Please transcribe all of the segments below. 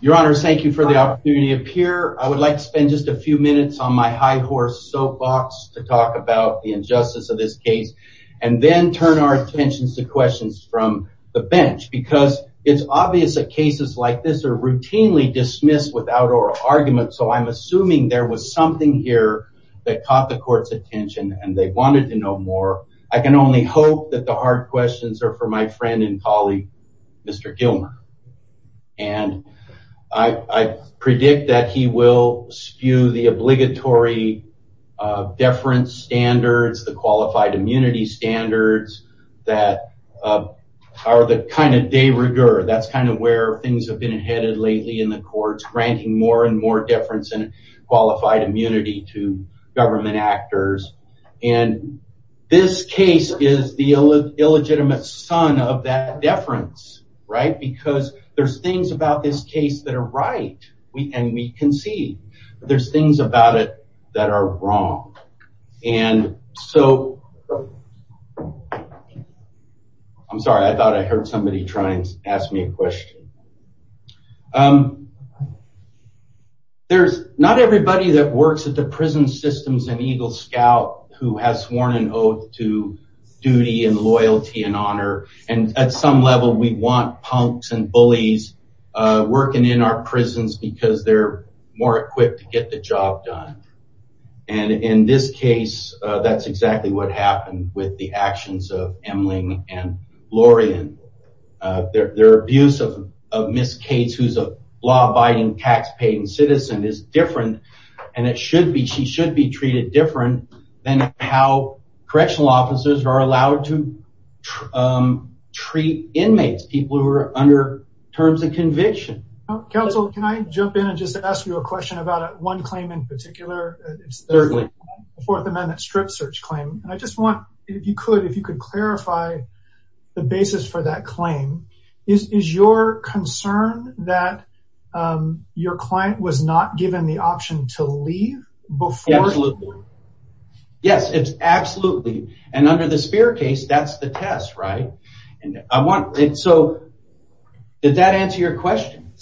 Your Honor, thank you for the opportunity to appear. I would like to spend just a few minutes on my high horse soapbox to talk about the injustice of this case and then turn our attentions to questions from the bench because it's obvious that cases like this are routinely dismissed without oral argument so I'm assuming there was something here that caught the court's attention and they wanted to know more. I can only hope that the hard questions are for my friend and colleague Mr. Gilmer and I predict that he will spew the obligatory deference standards, the qualified immunity standards that are the kind of de rigueur, that's kind of where things have been headed lately in the courts, granting more and more deference and qualified immunity to government actors and this case is the because there's things about this case that are right and we can see there's things about it that are wrong and so I'm sorry I thought I heard somebody trying to ask me a question. There's not everybody that works at the prison systems and Eagle Scout who has sworn an oath to duty and loyalty and honor and at some level we want punks and bullies working in our prisons because they're more equipped to get the job done and in this case that's exactly what happened with the actions of Emling and Lorien. Their abuse of Ms. Cates who's a law abiding taxpaying citizen is different and it should be she should be treated different than how correctional officers are allowed to treat inmates, people who are under terms of conviction. Counsel, can I jump in and just ask you a question about one claim in particular? Certainly. The Fourth Amendment strip search claim and I just want, if you could, if you could clarify the basis for that claim. Is your concern that your client was not given the option to leave before? Absolutely. Yes, it's absolutely and under the Spear case that's the test, right? And I want it so, did that answer your question?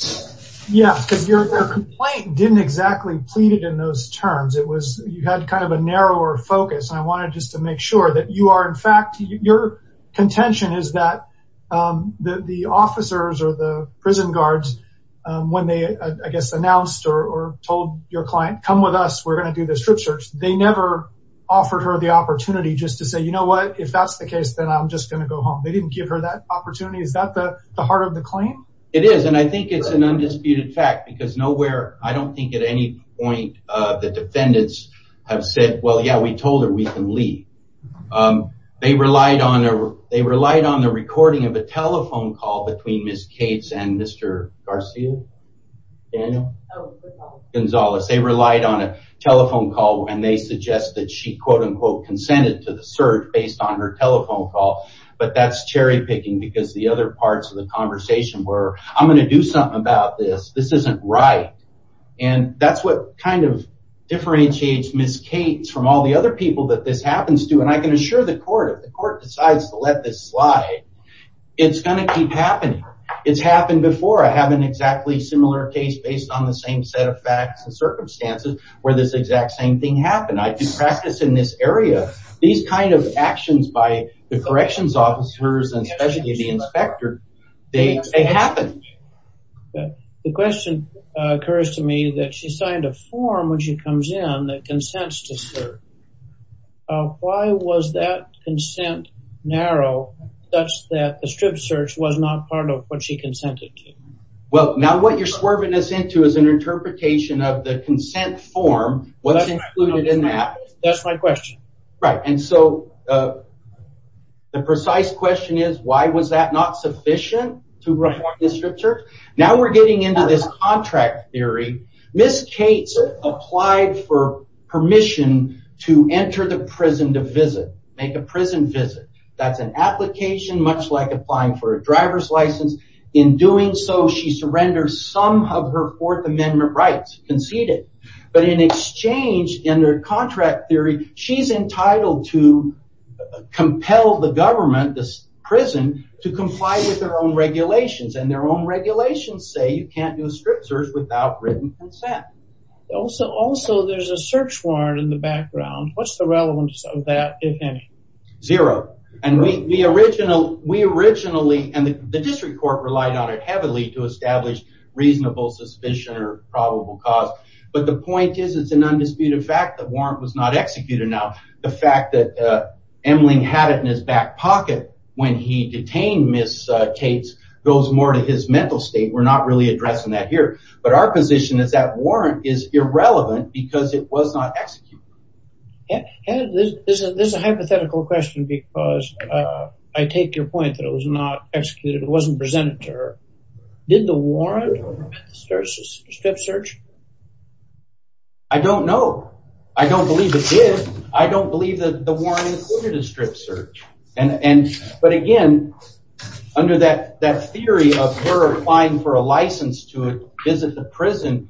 Yeah, because your complaint didn't exactly plead it in those terms. It was, you had kind of a narrower focus and I wanted just to make sure that you are in fact, your contention is that the officers or the prison guards when they I guess announced or told your client, come with us, we're going to do the strip search. They never offered her the opportunity just to say, you know what, if that's the case, then I'm just going to go home. They didn't give her that opportunity. Is that the heart of the claim? It is and I think it's an undisputed fact because nowhere, I don't think at any point the defendants have said, well, yeah, we told her we can leave. They relied on the recording of a Gonzalez. They relied on a telephone call and they suggest that she quote unquote consented to the search based on her telephone call. But that's cherry picking because the other parts of the conversation where I'm going to do something about this, this isn't right. And that's what kind of differentiates Ms. Cates from all the other people that this happens to. And I can assure the court, if the court decides to let this slide, it's going to keep happening. It's happened before. I have an exactly similar case based on the same set of facts and circumstances where this exact same thing happened. I do practice in this area. These kind of actions by the corrections officers and especially the inspector, they happen. The question occurs to me that she signed a form when she comes in that consents to search. Why was that consent narrow such that the strip search was not part of what she consented to? Well, now what you're swerving us into is an interpretation of the consent form. What's included in that? That's my question. Right. And so the precise question is, why was that not sufficient to reform the strip search? Now we're getting into this contract theory. Ms. Cates applied for permission to enter the prison to visit, make a prison visit. That's an application much like applying for a driver's license. In doing so, she surrenders some of her Fourth Amendment rights, conceded. But in exchange, in her contract theory, she's entitled to compel the government, this prison, to comply with their own regulations. And their own regulations say you can't do a strip search without written consent. Also, there's a search warrant in the background. What's the relevance of that, if any? Zero. And we originally, and the district court relied on it heavily to establish reasonable suspicion or probable cause. But the point is, it's an undisputed fact that warrant was not executed. Now, the fact that Emling had it in his back pocket when he detained Ms. Cates goes more to his mental state. We're not really addressing that here. But our position is that warrant is irrelevant because it was not executed. This is a hypothetical question because I take your point that it was not executed. It wasn't presented to her. Did the warrant prevent the strip search? I don't know. I don't believe it did. I don't believe that the warrant included a strip search. But again, under that theory of her applying for a license to visit the prison,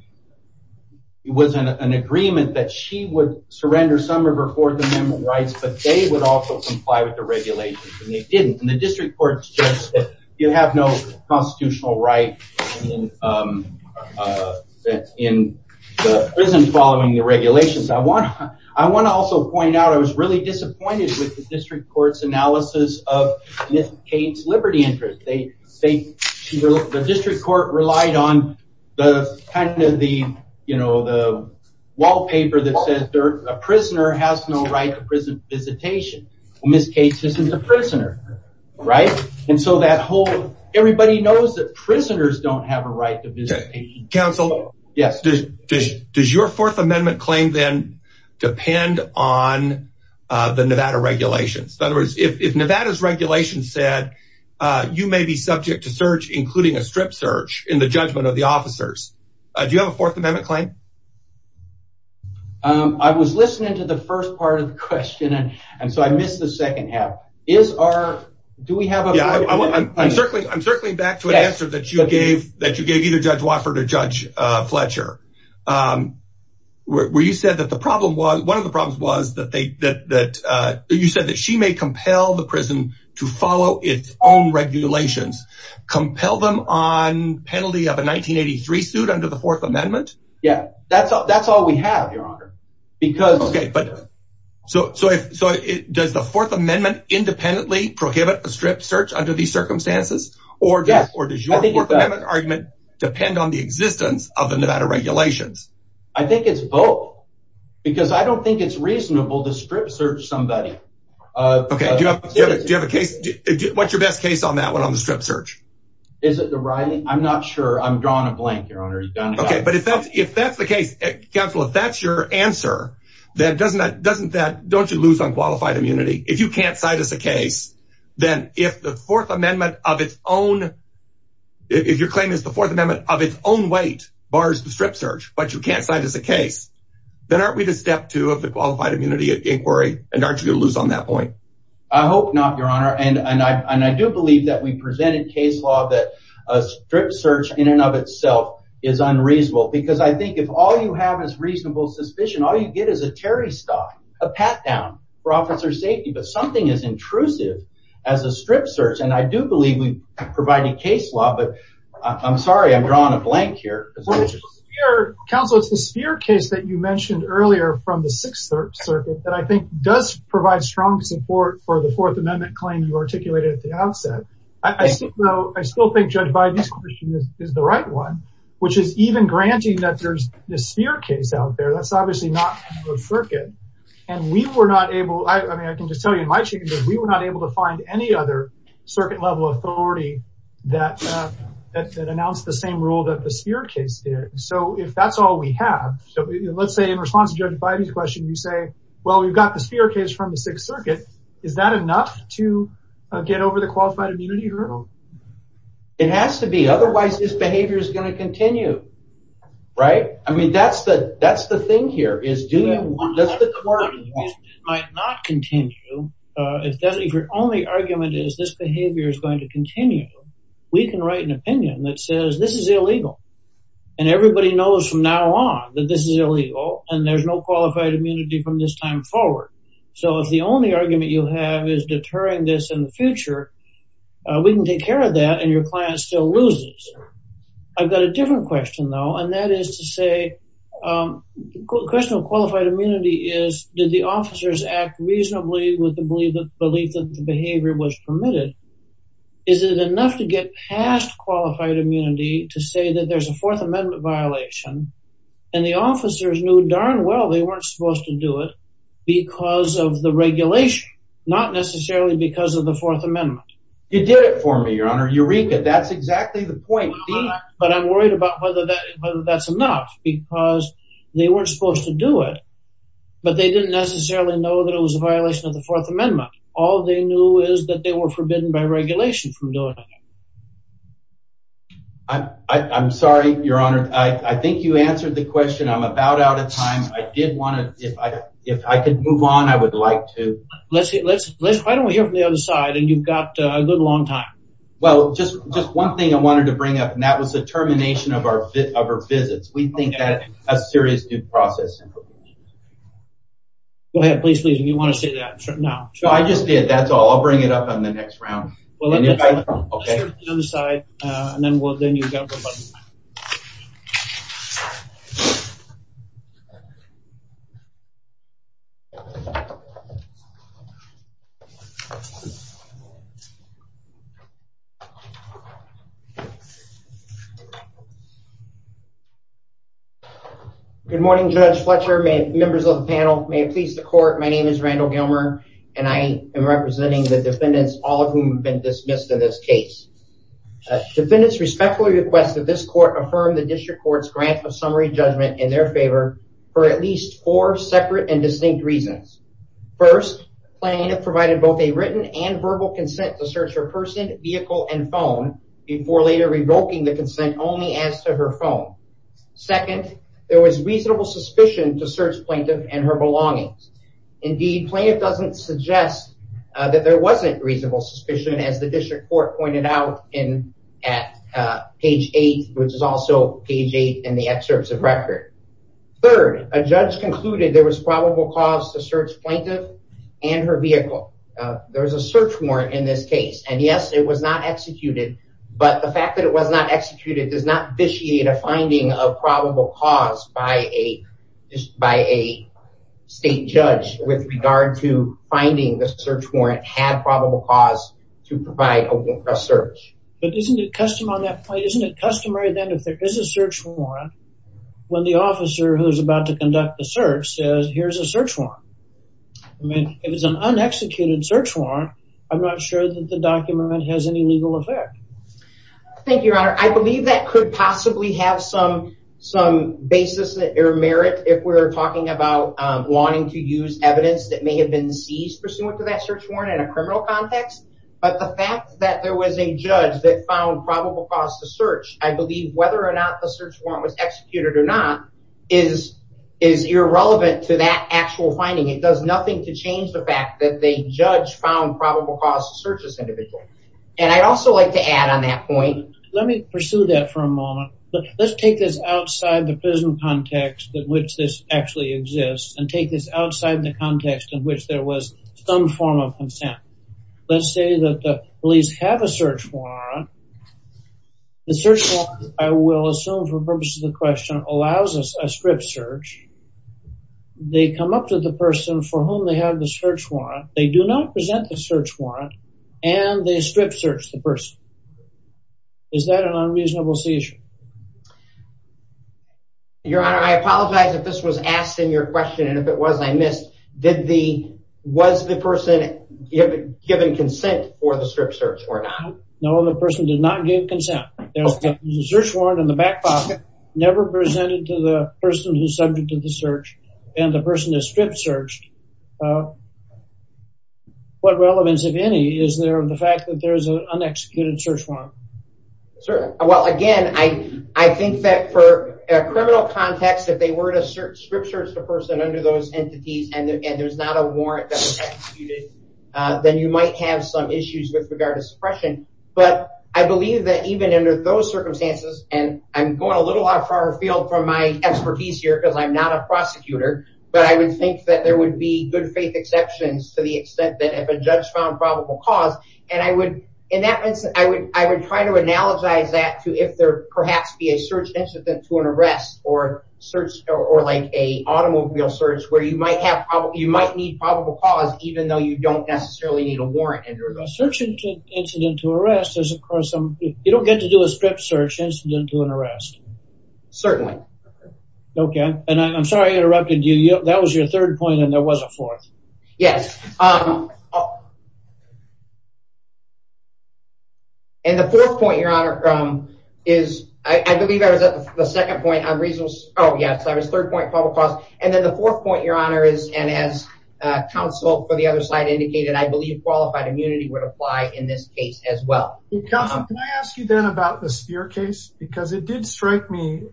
it was an agreement that she would surrender some of her Fourth Amendment rights, but they would also comply with the regulations. And they didn't. And the district court states that you have no constitutional right in the prison following the regulations. I want to also point out, I was really interested in the district court's analysis of Ms. Cates' liberty interest. The district court relied on the kind of the, you know, the wallpaper that says a prisoner has no right to prison visitation. Ms. Cates isn't a prisoner, right? And so that whole, everybody knows that prisoners don't have a right to visitation. Counsel, does your Fourth Amendment claim then depend on the if Nevada's regulations said you may be subject to search, including a strip search, in the judgment of the officers, do you have a Fourth Amendment claim? I was listening to the first part of the question, and so I missed the second half. I'm circling back to an answer that you gave either Judge Wofford or Judge Fletcher, where you said that the problem was, one of the problems was that they, that you said that she may compel the prison to follow its own regulations, compel them on penalty of a 1983 suit under the Fourth Amendment. Yeah, that's all we have, Your Honor, because... Okay, but so does the Fourth Amendment independently prohibit a strip search under these circumstances? Or does your Fourth Amendment argument depend on the regulations? I think it's both, because I don't think it's reasonable to strip search somebody. Okay, do you have a case, what's your best case on that one, on the strip search? Is it the Riley? I'm not sure, I'm drawing a blank, Your Honor. Okay, but if that's the case, Counsel, if that's your answer, then doesn't that, don't you lose on qualified immunity? If you can't cite us a case, then if the Fourth Amendment of its own, if your claim is the Fourth Amendment of its own weight bars the strip search, but you can't cite us a case, then aren't we the step two of the qualified immunity inquiry, and aren't you gonna lose on that point? I hope not, Your Honor, and I do believe that we presented case law that a strip search in and of itself is unreasonable, because I think if all you have is reasonable suspicion, all you get is a Terry stock, a pat down for officer safety, but something as intrusive as a strip search, and I do believe we provided case law, but I'm sorry, I'm drawing a blank here. Counsel, it's the Spear case that you mentioned earlier from the Sixth Circuit that I think does provide strong support for the Fourth Amendment claim you articulated at the outset. I think, though, I still think Judge Biden's question is the right one, which is even granting that there's the Spear case out there, that's obviously not a circuit, and we were not able to find any other circuit level authority that announced the same rule that the Spear case did, so if that's all we have, let's say in response to Judge Biden's question, you say, well, we've got the Spear case from the Sixth Circuit, is that enough to get over the qualified immunity hurdle? It has to be, otherwise this behavior is going to continue, right? I mean, that's the thing here. If your only argument is this behavior is going to continue, we can write an opinion that says this is illegal, and everybody knows from now on that this is illegal, and there's no qualified immunity from this time forward, so if the only argument you have is deterring this in the future, we can take care of that, and your client still loses. I've got a different question, though, and that is to say, the question of qualified immunity is, did the officers act reasonably with the belief that the behavior was permitted? Is it enough to get past qualified immunity to say that there's a Fourth Amendment violation, and the officers knew darn well they weren't supposed to do it because of the regulation, not necessarily because the Fourth Amendment. You did it for me, Your Honor. Eureka! That's exactly the point. But I'm worried about whether that's enough because they weren't supposed to do it, but they didn't necessarily know that it was a violation of the Fourth Amendment. All they knew is that they were forbidden by regulation from doing it. I'm sorry, Your Honor. I think you answered the question. I'm about out of time. I did want to, if I could move on, I would like to. Let's see. Why don't we hear from the other side, and you've got a good long time. Well, just one thing I wanted to bring up, and that was the termination of our visits. We think that's a serious due process. Go ahead, please, please, if you want to say that now. I just did. That's all. I'll bring it up on the next round. Well, let's hear from the other side, and then we'll then you've got. Good morning, Judge Fletcher, members of the panel. May it please the court, my name is Randall Gilmer, and I am representing the defendants, all of whom have been dismissed in this case. Defendants respectfully request that this court affirm the district court's grant of summary judgment in their favor for at least four separate and distinct reasons. First, the plaintiff provided both a written and verbal consent to search her person, vehicle, and phone before later revoking the consent only as to her phone. Second, there was reasonable suspicion to search plaintiff and her belongings. Indeed, plaintiff doesn't suggest that there wasn't reasonable suspicion as the district court pointed out in at page eight, which is also page eight in the excerpts of record. Third, a judge concluded there was probable cause to search plaintiff and her vehicle. There's a search warrant in this case, and yes, it was not executed, but the fact that it was not a probable cause by a state judge with regard to finding the search warrant had probable cause to provide a search. But isn't it custom on that point, isn't it customary then, if there is a search warrant, when the officer who's about to conduct the search says, here's a search warrant. I mean, if it's an unexecuted search warrant, I'm not sure that the document has any legal effect. Thank you, your honor. I believe that could possibly have some basis or merit if we're talking about wanting to use evidence that may have been seized pursuant to that search warrant in a criminal context. But the fact that there was a judge that found probable cause to search, I believe whether or not the search warrant was executed or not is irrelevant to that actual finding. It does nothing to change the fact that the judge found probable cause to search this on that point. Let me pursue that for a moment. Let's take this outside the prison context in which this actually exists and take this outside the context in which there was some form of consent. Let's say that the police have a search warrant. The search warrant, I will assume for purpose of the question, allows us a strip search. They come up to the person for whom they have the search warrant and they strip search the person. Is that an unreasonable seizure? Your honor, I apologize if this was asked in your question and if it was, I missed. Did the, was the person given consent for the strip search or not? No, the person did not give consent. There's a search warrant in the back pocket, never presented to the person who's subject to the search and the person has strip searched. So, what relevance, if any, is there of the fact that there's an unexecuted search warrant? Sure. Well, again, I think that for a criminal context, if they were to strip search the person under those entities and there's not a warrant that was executed, then you might have some issues with regard to suppression. But I believe that even under those circumstances, and I'm going a little off our field from my expertise here because I'm not a prosecutor, but I would think that there would be good faith exceptions to the extent that if a judge found probable cause, and I would, in that instance, I would, I would try to analogize that to if there perhaps be a search incident to an arrest or search, or like a automobile search, where you might have, you might need probable cause, even though you don't necessarily need a warrant. A search incident to arrest is of course, you don't get to do a strip search incident to an arrest. Certainly. Okay. And I'm sorry I interrupted you. That was your third point and there was a fourth. Yes. And the fourth point, Your Honor, is, I believe I was at the second point on reasonable, oh yes, I was third point probable cause. And then the fourth point, Your Honor, is, and as counsel for the other side indicated, I believe qualified immunity would apply in this case as well. Counsel, can I ask you then about the Speer case? Because it did strike me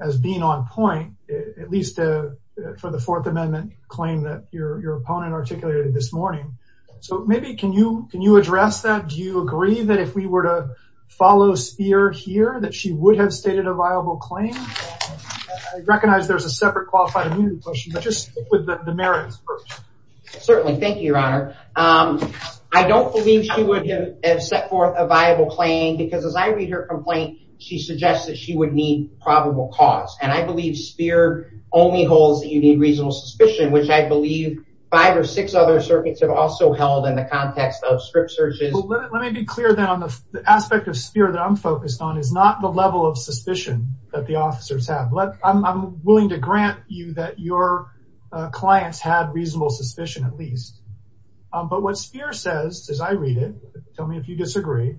as being on point, at least for the fourth amendment claim that your opponent articulated this morning. So maybe can you, can you address that? Do you agree that if we were to follow Speer here, that she would have stated a viable claim? I recognize there's a separate qualified immunity question, but just with the merits first. Certainly. Thank you, Your Honor. I don't believe she would have set forth a viable claim because as I read her complaint, she suggests that she would need probable cause. And I believe Speer only holds that you need reasonable suspicion, which I believe five or six other circuits have also held in the context of strip searches. Let me be clear then on the aspect of Speer that I'm focused on is not the level of suspicion that the officers have. I'm willing to grant you that your clients had reasonable suspicion at least. But what Speer says as I read it, tell me if you disagree,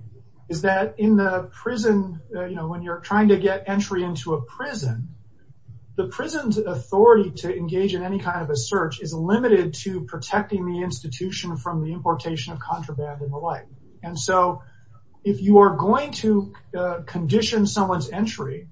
is that in the prison, you know, when you're trying to get entry into a prison, the prison's authority to engage in any kind of a search is limited to protecting the institution from the importation of contraband and the like. And so if you are going to condition someone's entry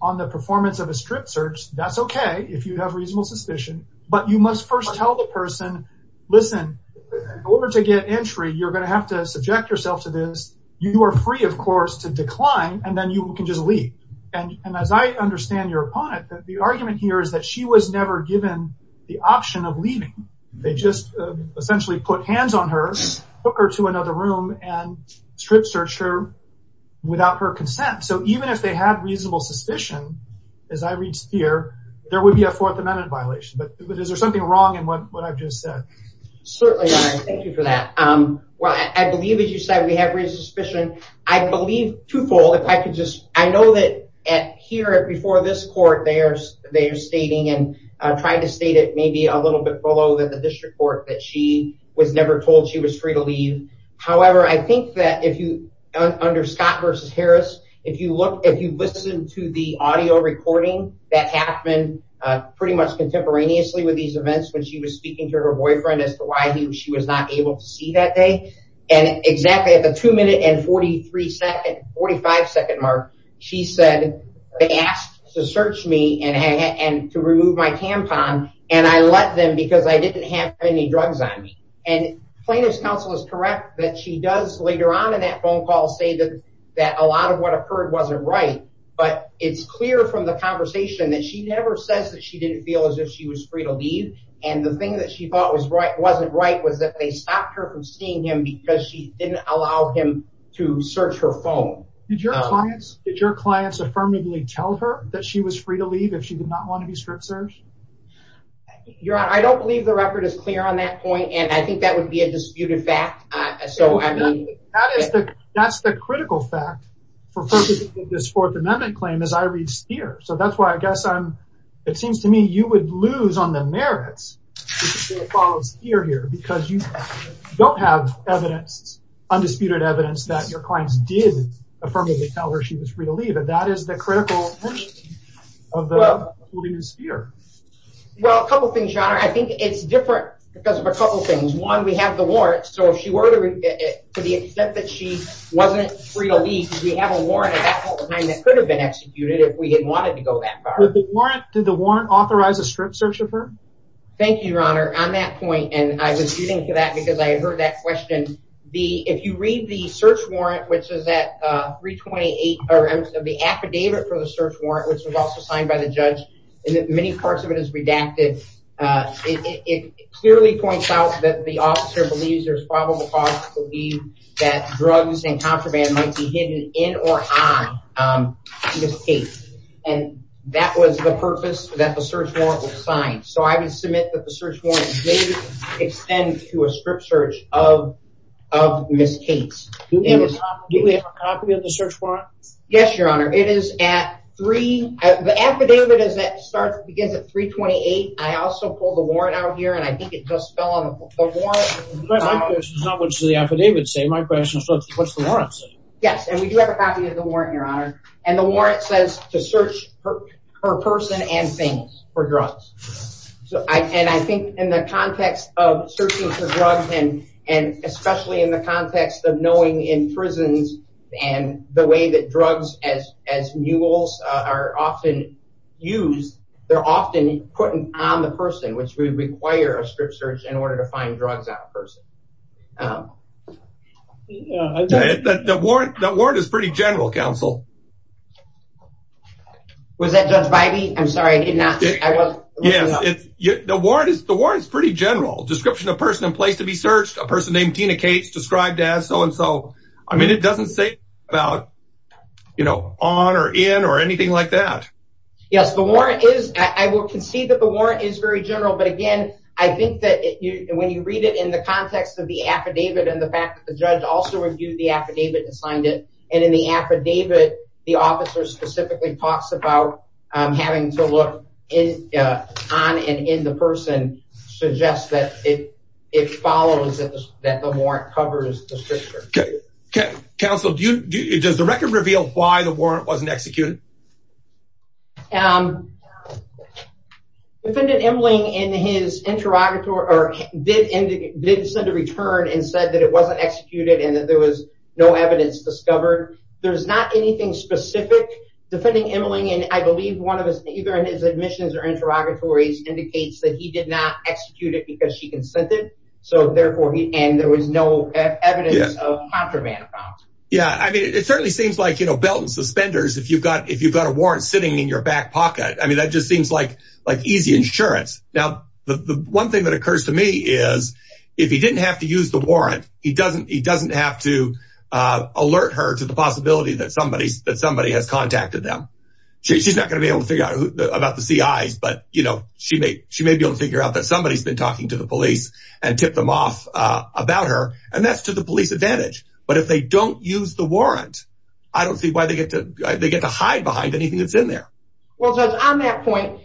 on the performance of a strip search, that's okay if you have reasonable suspicion. But you must first tell the person, listen, in order to get entry, you're going to have to subject yourself to this. You are free, of course, to decline and then you can just leave. And as I understand your opponent, the argument here is that she was never given the option of leaving. They just essentially put hands on her, took her to another room and strip searched her without her consent. So even if they had reasonable suspicion, as I read Speer, there would be a Fourth Amendment violation. But is there something wrong in what I've just said? Certainly not. Thank you for that. Well, I believe, as you said, we have reasonable suspicion. I believe twofold. I know that here before this court, they are stating and trying to state it maybe a little bit below that the district court that she was never told she was free to leave. However, I think that if you, under Scott versus Harris, if you look, if you listen to the audio recording that happened pretty much contemporaneously with these events, when she was speaking to her boyfriend as to why she was not able to see that day. And exactly at the two minute and forty three second, forty five second mark, she said they asked to search me and to remove my tampon. And I let them because I didn't have any drugs on me. And plaintiff's counsel is correct that she does later on in that phone call say that that a lot of what occurred wasn't right. But it's clear from the conversation that she never says that she didn't feel as if she was free to leave. And the thing that she thought was right wasn't right was that they stopped her from seeing him because she didn't allow him to search her phone. Did your clients did your clients affirmatively tell her that she was free to leave if she did not want to be strict? Your honor, I don't believe the record is clear on that point. And I think that would be a disputed fact. So I mean, that's the critical fact for this Fourth Amendment claim is I read Spear. So that's why I guess I'm it seems to me you would lose on the merits here here because you don't have evidence, undisputed evidence that your clients did affirmatively tell her she was free to leave. And that is the critical of the Spear. Well, a couple of things, your honor. I think it's different because of a couple of things. One, we have the warrant. So if she were to to the extent that she wasn't free to leave, we have a warrant at that point in time that could have been executed if we didn't want it to go that far. With the warrant, did the warrant authorize a strict search of her? Thank you, your honor, on that point. And I was using that because I heard that question. The if you read the search warrant, which is that 328 or the affidavit for the search warrant, which was also signed by the judge, and that many parts of it is redacted. It clearly points out that the officer believes there's probable cause to believe that drugs and contraband might be hidden in or on Ms. Cates. And that was the purpose that the search warrant was signed. So I would submit that the search warrant did extend to a strict search of Ms. Cates. Do we have a copy of the search warrant? Yes, your honor. The affidavit begins at 328. I also pulled the warrant out here and I think it just fell on the floor. My question is not what does the affidavit say. My question is what does the warrant say? Yes, and we do have a copy of the warrant, your honor. And the warrant says to search her person and things for drugs. And I in prisons and the way that drugs as as mules are often used, they're often put on the person, which would require a strict search in order to find drugs out of person. The warrant is pretty general, counsel. Was that Judge Bybee? I'm sorry, I did not. The warrant is the warrant is pretty general. Description of person in place to be searched, a person named Tina Cates described as so and so. I mean, it doesn't say about, you know, on or in or anything like that. Yes, the warrant is. I will concede that the warrant is very general. But again, I think that when you read it in the context of the affidavit and the fact that the judge also reviewed the affidavit and signed it and in the affidavit, the officer that the warrant covers the strict. Counsel, do you, does the record reveal why the warrant wasn't executed? Defendant Emling in his interrogator or did send a return and said that it wasn't executed and that there was no evidence discovered. There's not anything specific defending Emling. And I believe one of us, either in his admissions or interrogatories indicates that he did not execute it because she consented. So therefore, and there was no evidence of contraband. Yeah, I mean, it certainly seems like, you know, belt and suspenders. If you've got if you've got a warrant sitting in your back pocket, I mean, that just seems like like easy insurance. Now, the one thing that occurs to me is if he didn't have to use the warrant, he doesn't he doesn't have to alert her to the possibility that somebody that somebody has contacted them. She's not going to be able to figure out about but, you know, she may she may be able to figure out that somebody's been talking to the police and tip them off about her. And that's to the police advantage. But if they don't use the warrant, I don't see why they get to they get to hide behind anything that's in there. Well, on that point,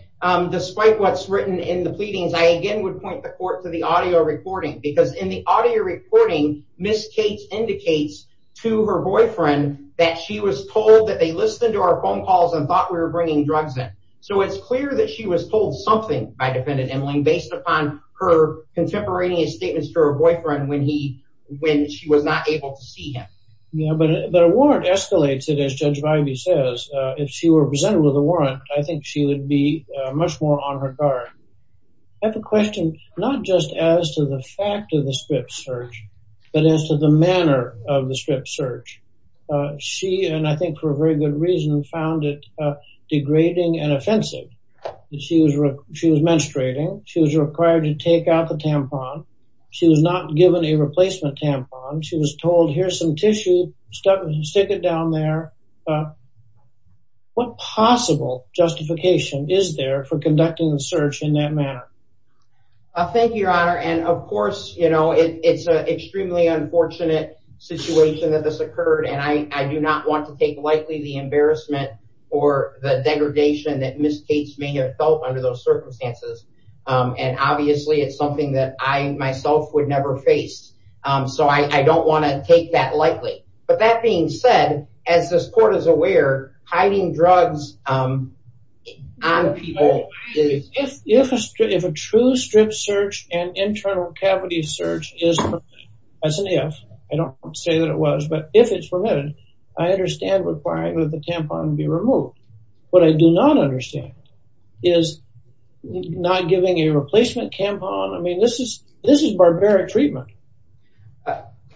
despite what's written in the pleadings, I again would point the court to the audio recording, because in the audio recording, Miss Kate indicates to her boyfriend that she was told that they listened to our phone calls and thought we were bringing drugs in. So it's clear that she was told something by defendant Emily based upon her contemporaneous statements to her boyfriend when he when she was not able to see him. Yeah, but the warrant escalates it as Judge Vibey says, if she were presented with a warrant, I think she would be much more on her guard. I have a question, not just as to the fact of the script search, but as to the manner of the script search. She and I think for a very good reason found it degrading and offensive that she was she was menstruating, she was required to take out the tampon. She was not given a replacement tampon. She was told here's some tissue stuff and stick it down there. What possible justification is there for conducting the search in that manner? Thank you, Your Honor. And of course, you know, it's an extremely unfortunate situation that this occurred. And I do not want to take lightly the embarrassment or the degradation that Ms. Cates may have felt under those circumstances. And obviously, it's something that I myself would never face. So I don't want to take that lightly. But that being said, as this court is aware, hiding drugs on people. If a true script search and internal cavity search is permitted, that's an if, I don't say that it was, but if it's permitted, I understand requiring that the tampon be removed. What I do not understand is not giving a replacement tampon. I mean, this is barbaric treatment.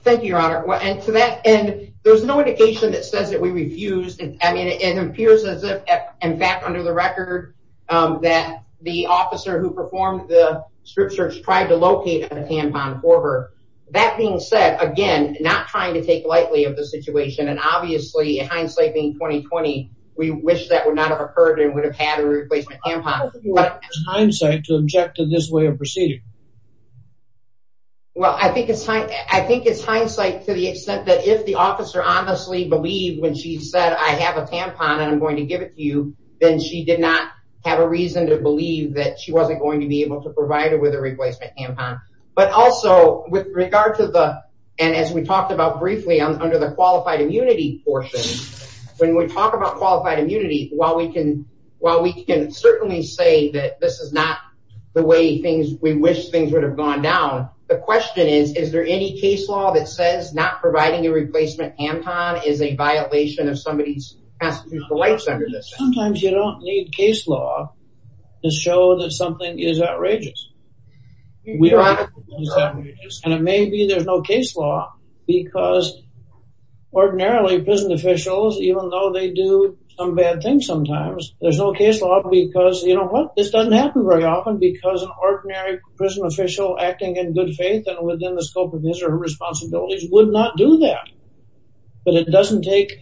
Thank you, Your Honor. And to that end, there's no indication that says that we refused. I mean, it appears as if, in fact, under the record, that the officer who performed the script search tried to locate a tampon for her. That being said, again, not trying to take lightly of the situation. And obviously, hindsight being 20-20, we wish that would not have occurred and would have had a replacement tampon. What is the hindsight to object to this way of proceeding? Well, I think it's hindsight to the extent that if the officer honestly believed when she said, I have a tampon and I'm going to give it to you, then she did not have a reason to believe that she wasn't going to be able to provide her with a replacement tampon. But also, with regard to the, and as we talked about briefly under the qualified immunity portion, when we talk about qualified immunity, while we can certainly say that this is not the way we wish things would have gone down, the question is, is there any case law that says not providing a replacement tampon is a violation of somebody's constitutional rights under this? Sometimes you don't need case law to show that something is outrageous. And it may be there's no case law because ordinarily prison officials, even though they do some bad things sometimes, there's no case law because, you know what, this doesn't happen very often because an ordinary prison official acting in good faith and within the scope of his or her responsibilities would not do that. But it doesn't take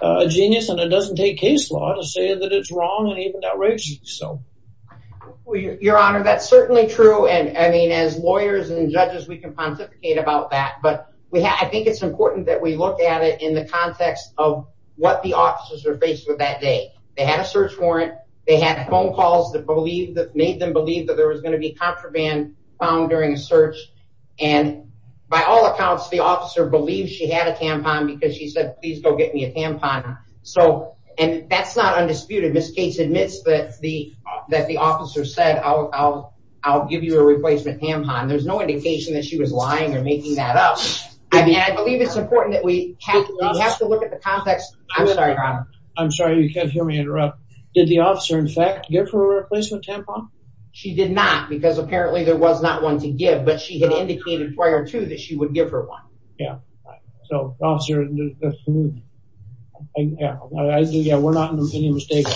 a genius and it doesn't take case law to say that it's wrong and even outrageous. So, your honor, that's certainly true. And I mean, as lawyers and judges, we can pontificate about that, but we have, I think it's important that we look at it in the context of what the officers are faced with that day. They had a search warrant, they had phone calls that made them believe that there was going to be found during a search. And by all accounts, the officer believed she had a tampon because she said, please go get me a tampon. So, and that's not undisputed. Ms. Gates admits that the officer said, I'll give you a replacement tampon. There's no indication that she was lying or making that up. I mean, I believe it's important that we have to look at the context. I'm sorry, your honor. I'm sorry, you can't hear me interrupt. Did the officer in fact get her a replacement tampon? She did not, because apparently there was not one to give, but she had indicated prior to that she would give her one. Yeah. So, officer, yeah, we're not in any mistake.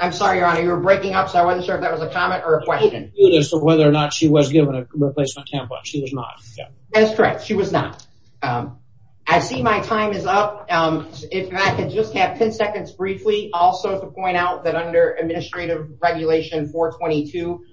I'm sorry, your honor, you were breaking up. So, I wasn't sure if that was a comment or a question. Whether or not she was given a replacement tampon. She was not. That's correct. She was not. I see my time is up. If I could just have 10 seconds briefly also to point out that under administrative regulation 422,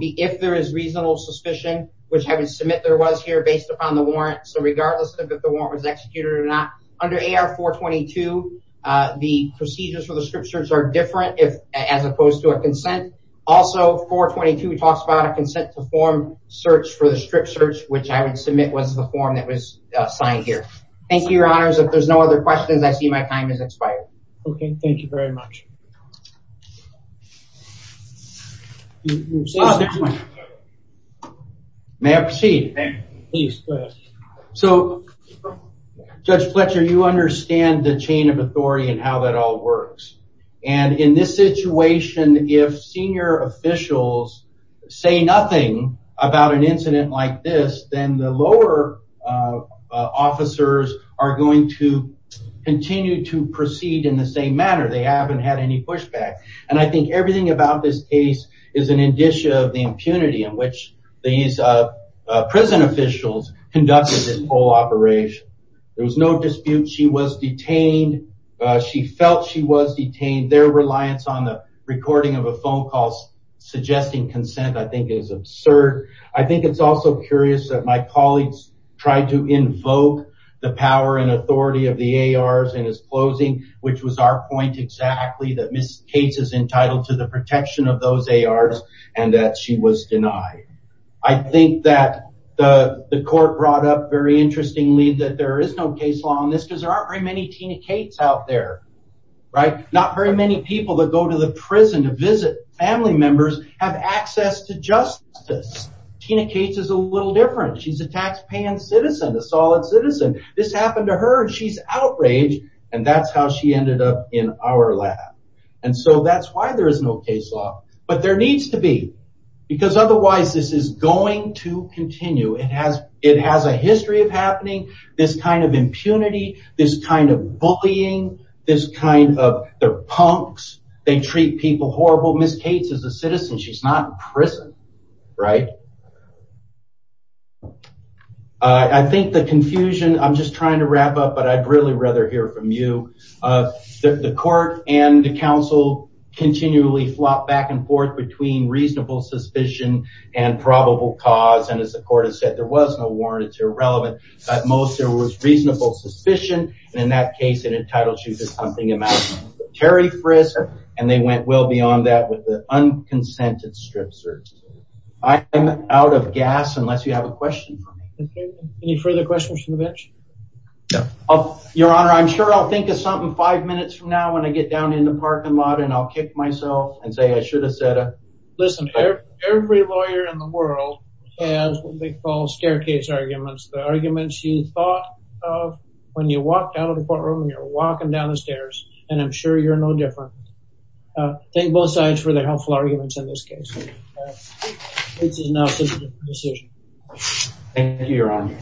if there is reasonable suspicion, which I would submit there was here based upon the warrant. So, regardless of if the warrant was executed or not, under AR 422, the procedures for the strip search are different as opposed to a consent. Also, 422 talks about a consent to form search for the strip search, which I would submit was the form that was signed here. Thank you, your honors. If there's no other questions, I see my time has expired. Okay. Thank you very much. May I proceed? Please, go ahead. So, Judge Fletcher, you understand the chain of authority and how that all works. And in this situation, if senior officials say nothing about an incident like this, then the lower officers are going to continue to proceed in the same manner. They haven't had any pushback. And I think everything about this case is an indicia of the impunity in which these prison officials conducted this whole operation. There was no dispute. She was detained. She felt she was detained. Their reliance on the recording of a phone call suggesting consent, I think, is absurd. I think it's also curious that my colleagues tried to invoke the power and authority of the ARs in his closing, which was our point exactly that Ms. Cates is entitled to the protection of those ARs and that she was denied. I think that the court brought up very interestingly that there is no case law on this because there aren't very many Tina Cates out there. Right? Not very many people that go to the prison to visit family members have access to justice. Tina Cates is a little different. She's a taxpaying citizen, a solid citizen. This happened to her and she's outraged. And that's how she ended up in our lab. And so that's why there is no case law. But there needs to be because otherwise this is going to continue. It has it has a history of happening. This kind of impunity, this kind of bullying, this kind of punks. They treat people horrible. Ms. Cates is a citizen. She's not in prison. Right? I think the confusion, I'm just trying to wrap up, but I'd really rather hear from you. The court and the council continually flop back and forth between reasonable suspicion and probable cause. And as the court has said, there was no warrant. It's irrelevant. At most, there was reasonable suspicion. And in that case, it entitles you to something Terry Frist. And they went well beyond that with the unconsented strip search. I am out of gas unless you have a question. Any further questions from the bench? Your Honor, I'm sure I'll think of something five minutes from now when I get down in the parking lot and I'll kick myself and say I should have said it. Listen, every lawyer in the world has what they call staircase arguments. The arguments you thought of when you walk down the stairs and I'm sure you're no different. Thank both sides for their helpful arguments in this case. This is now a decision. Thank you, Your Honor.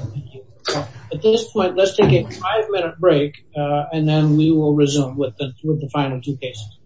At this point, let's take a five minute break and then we will resume with the final two cases.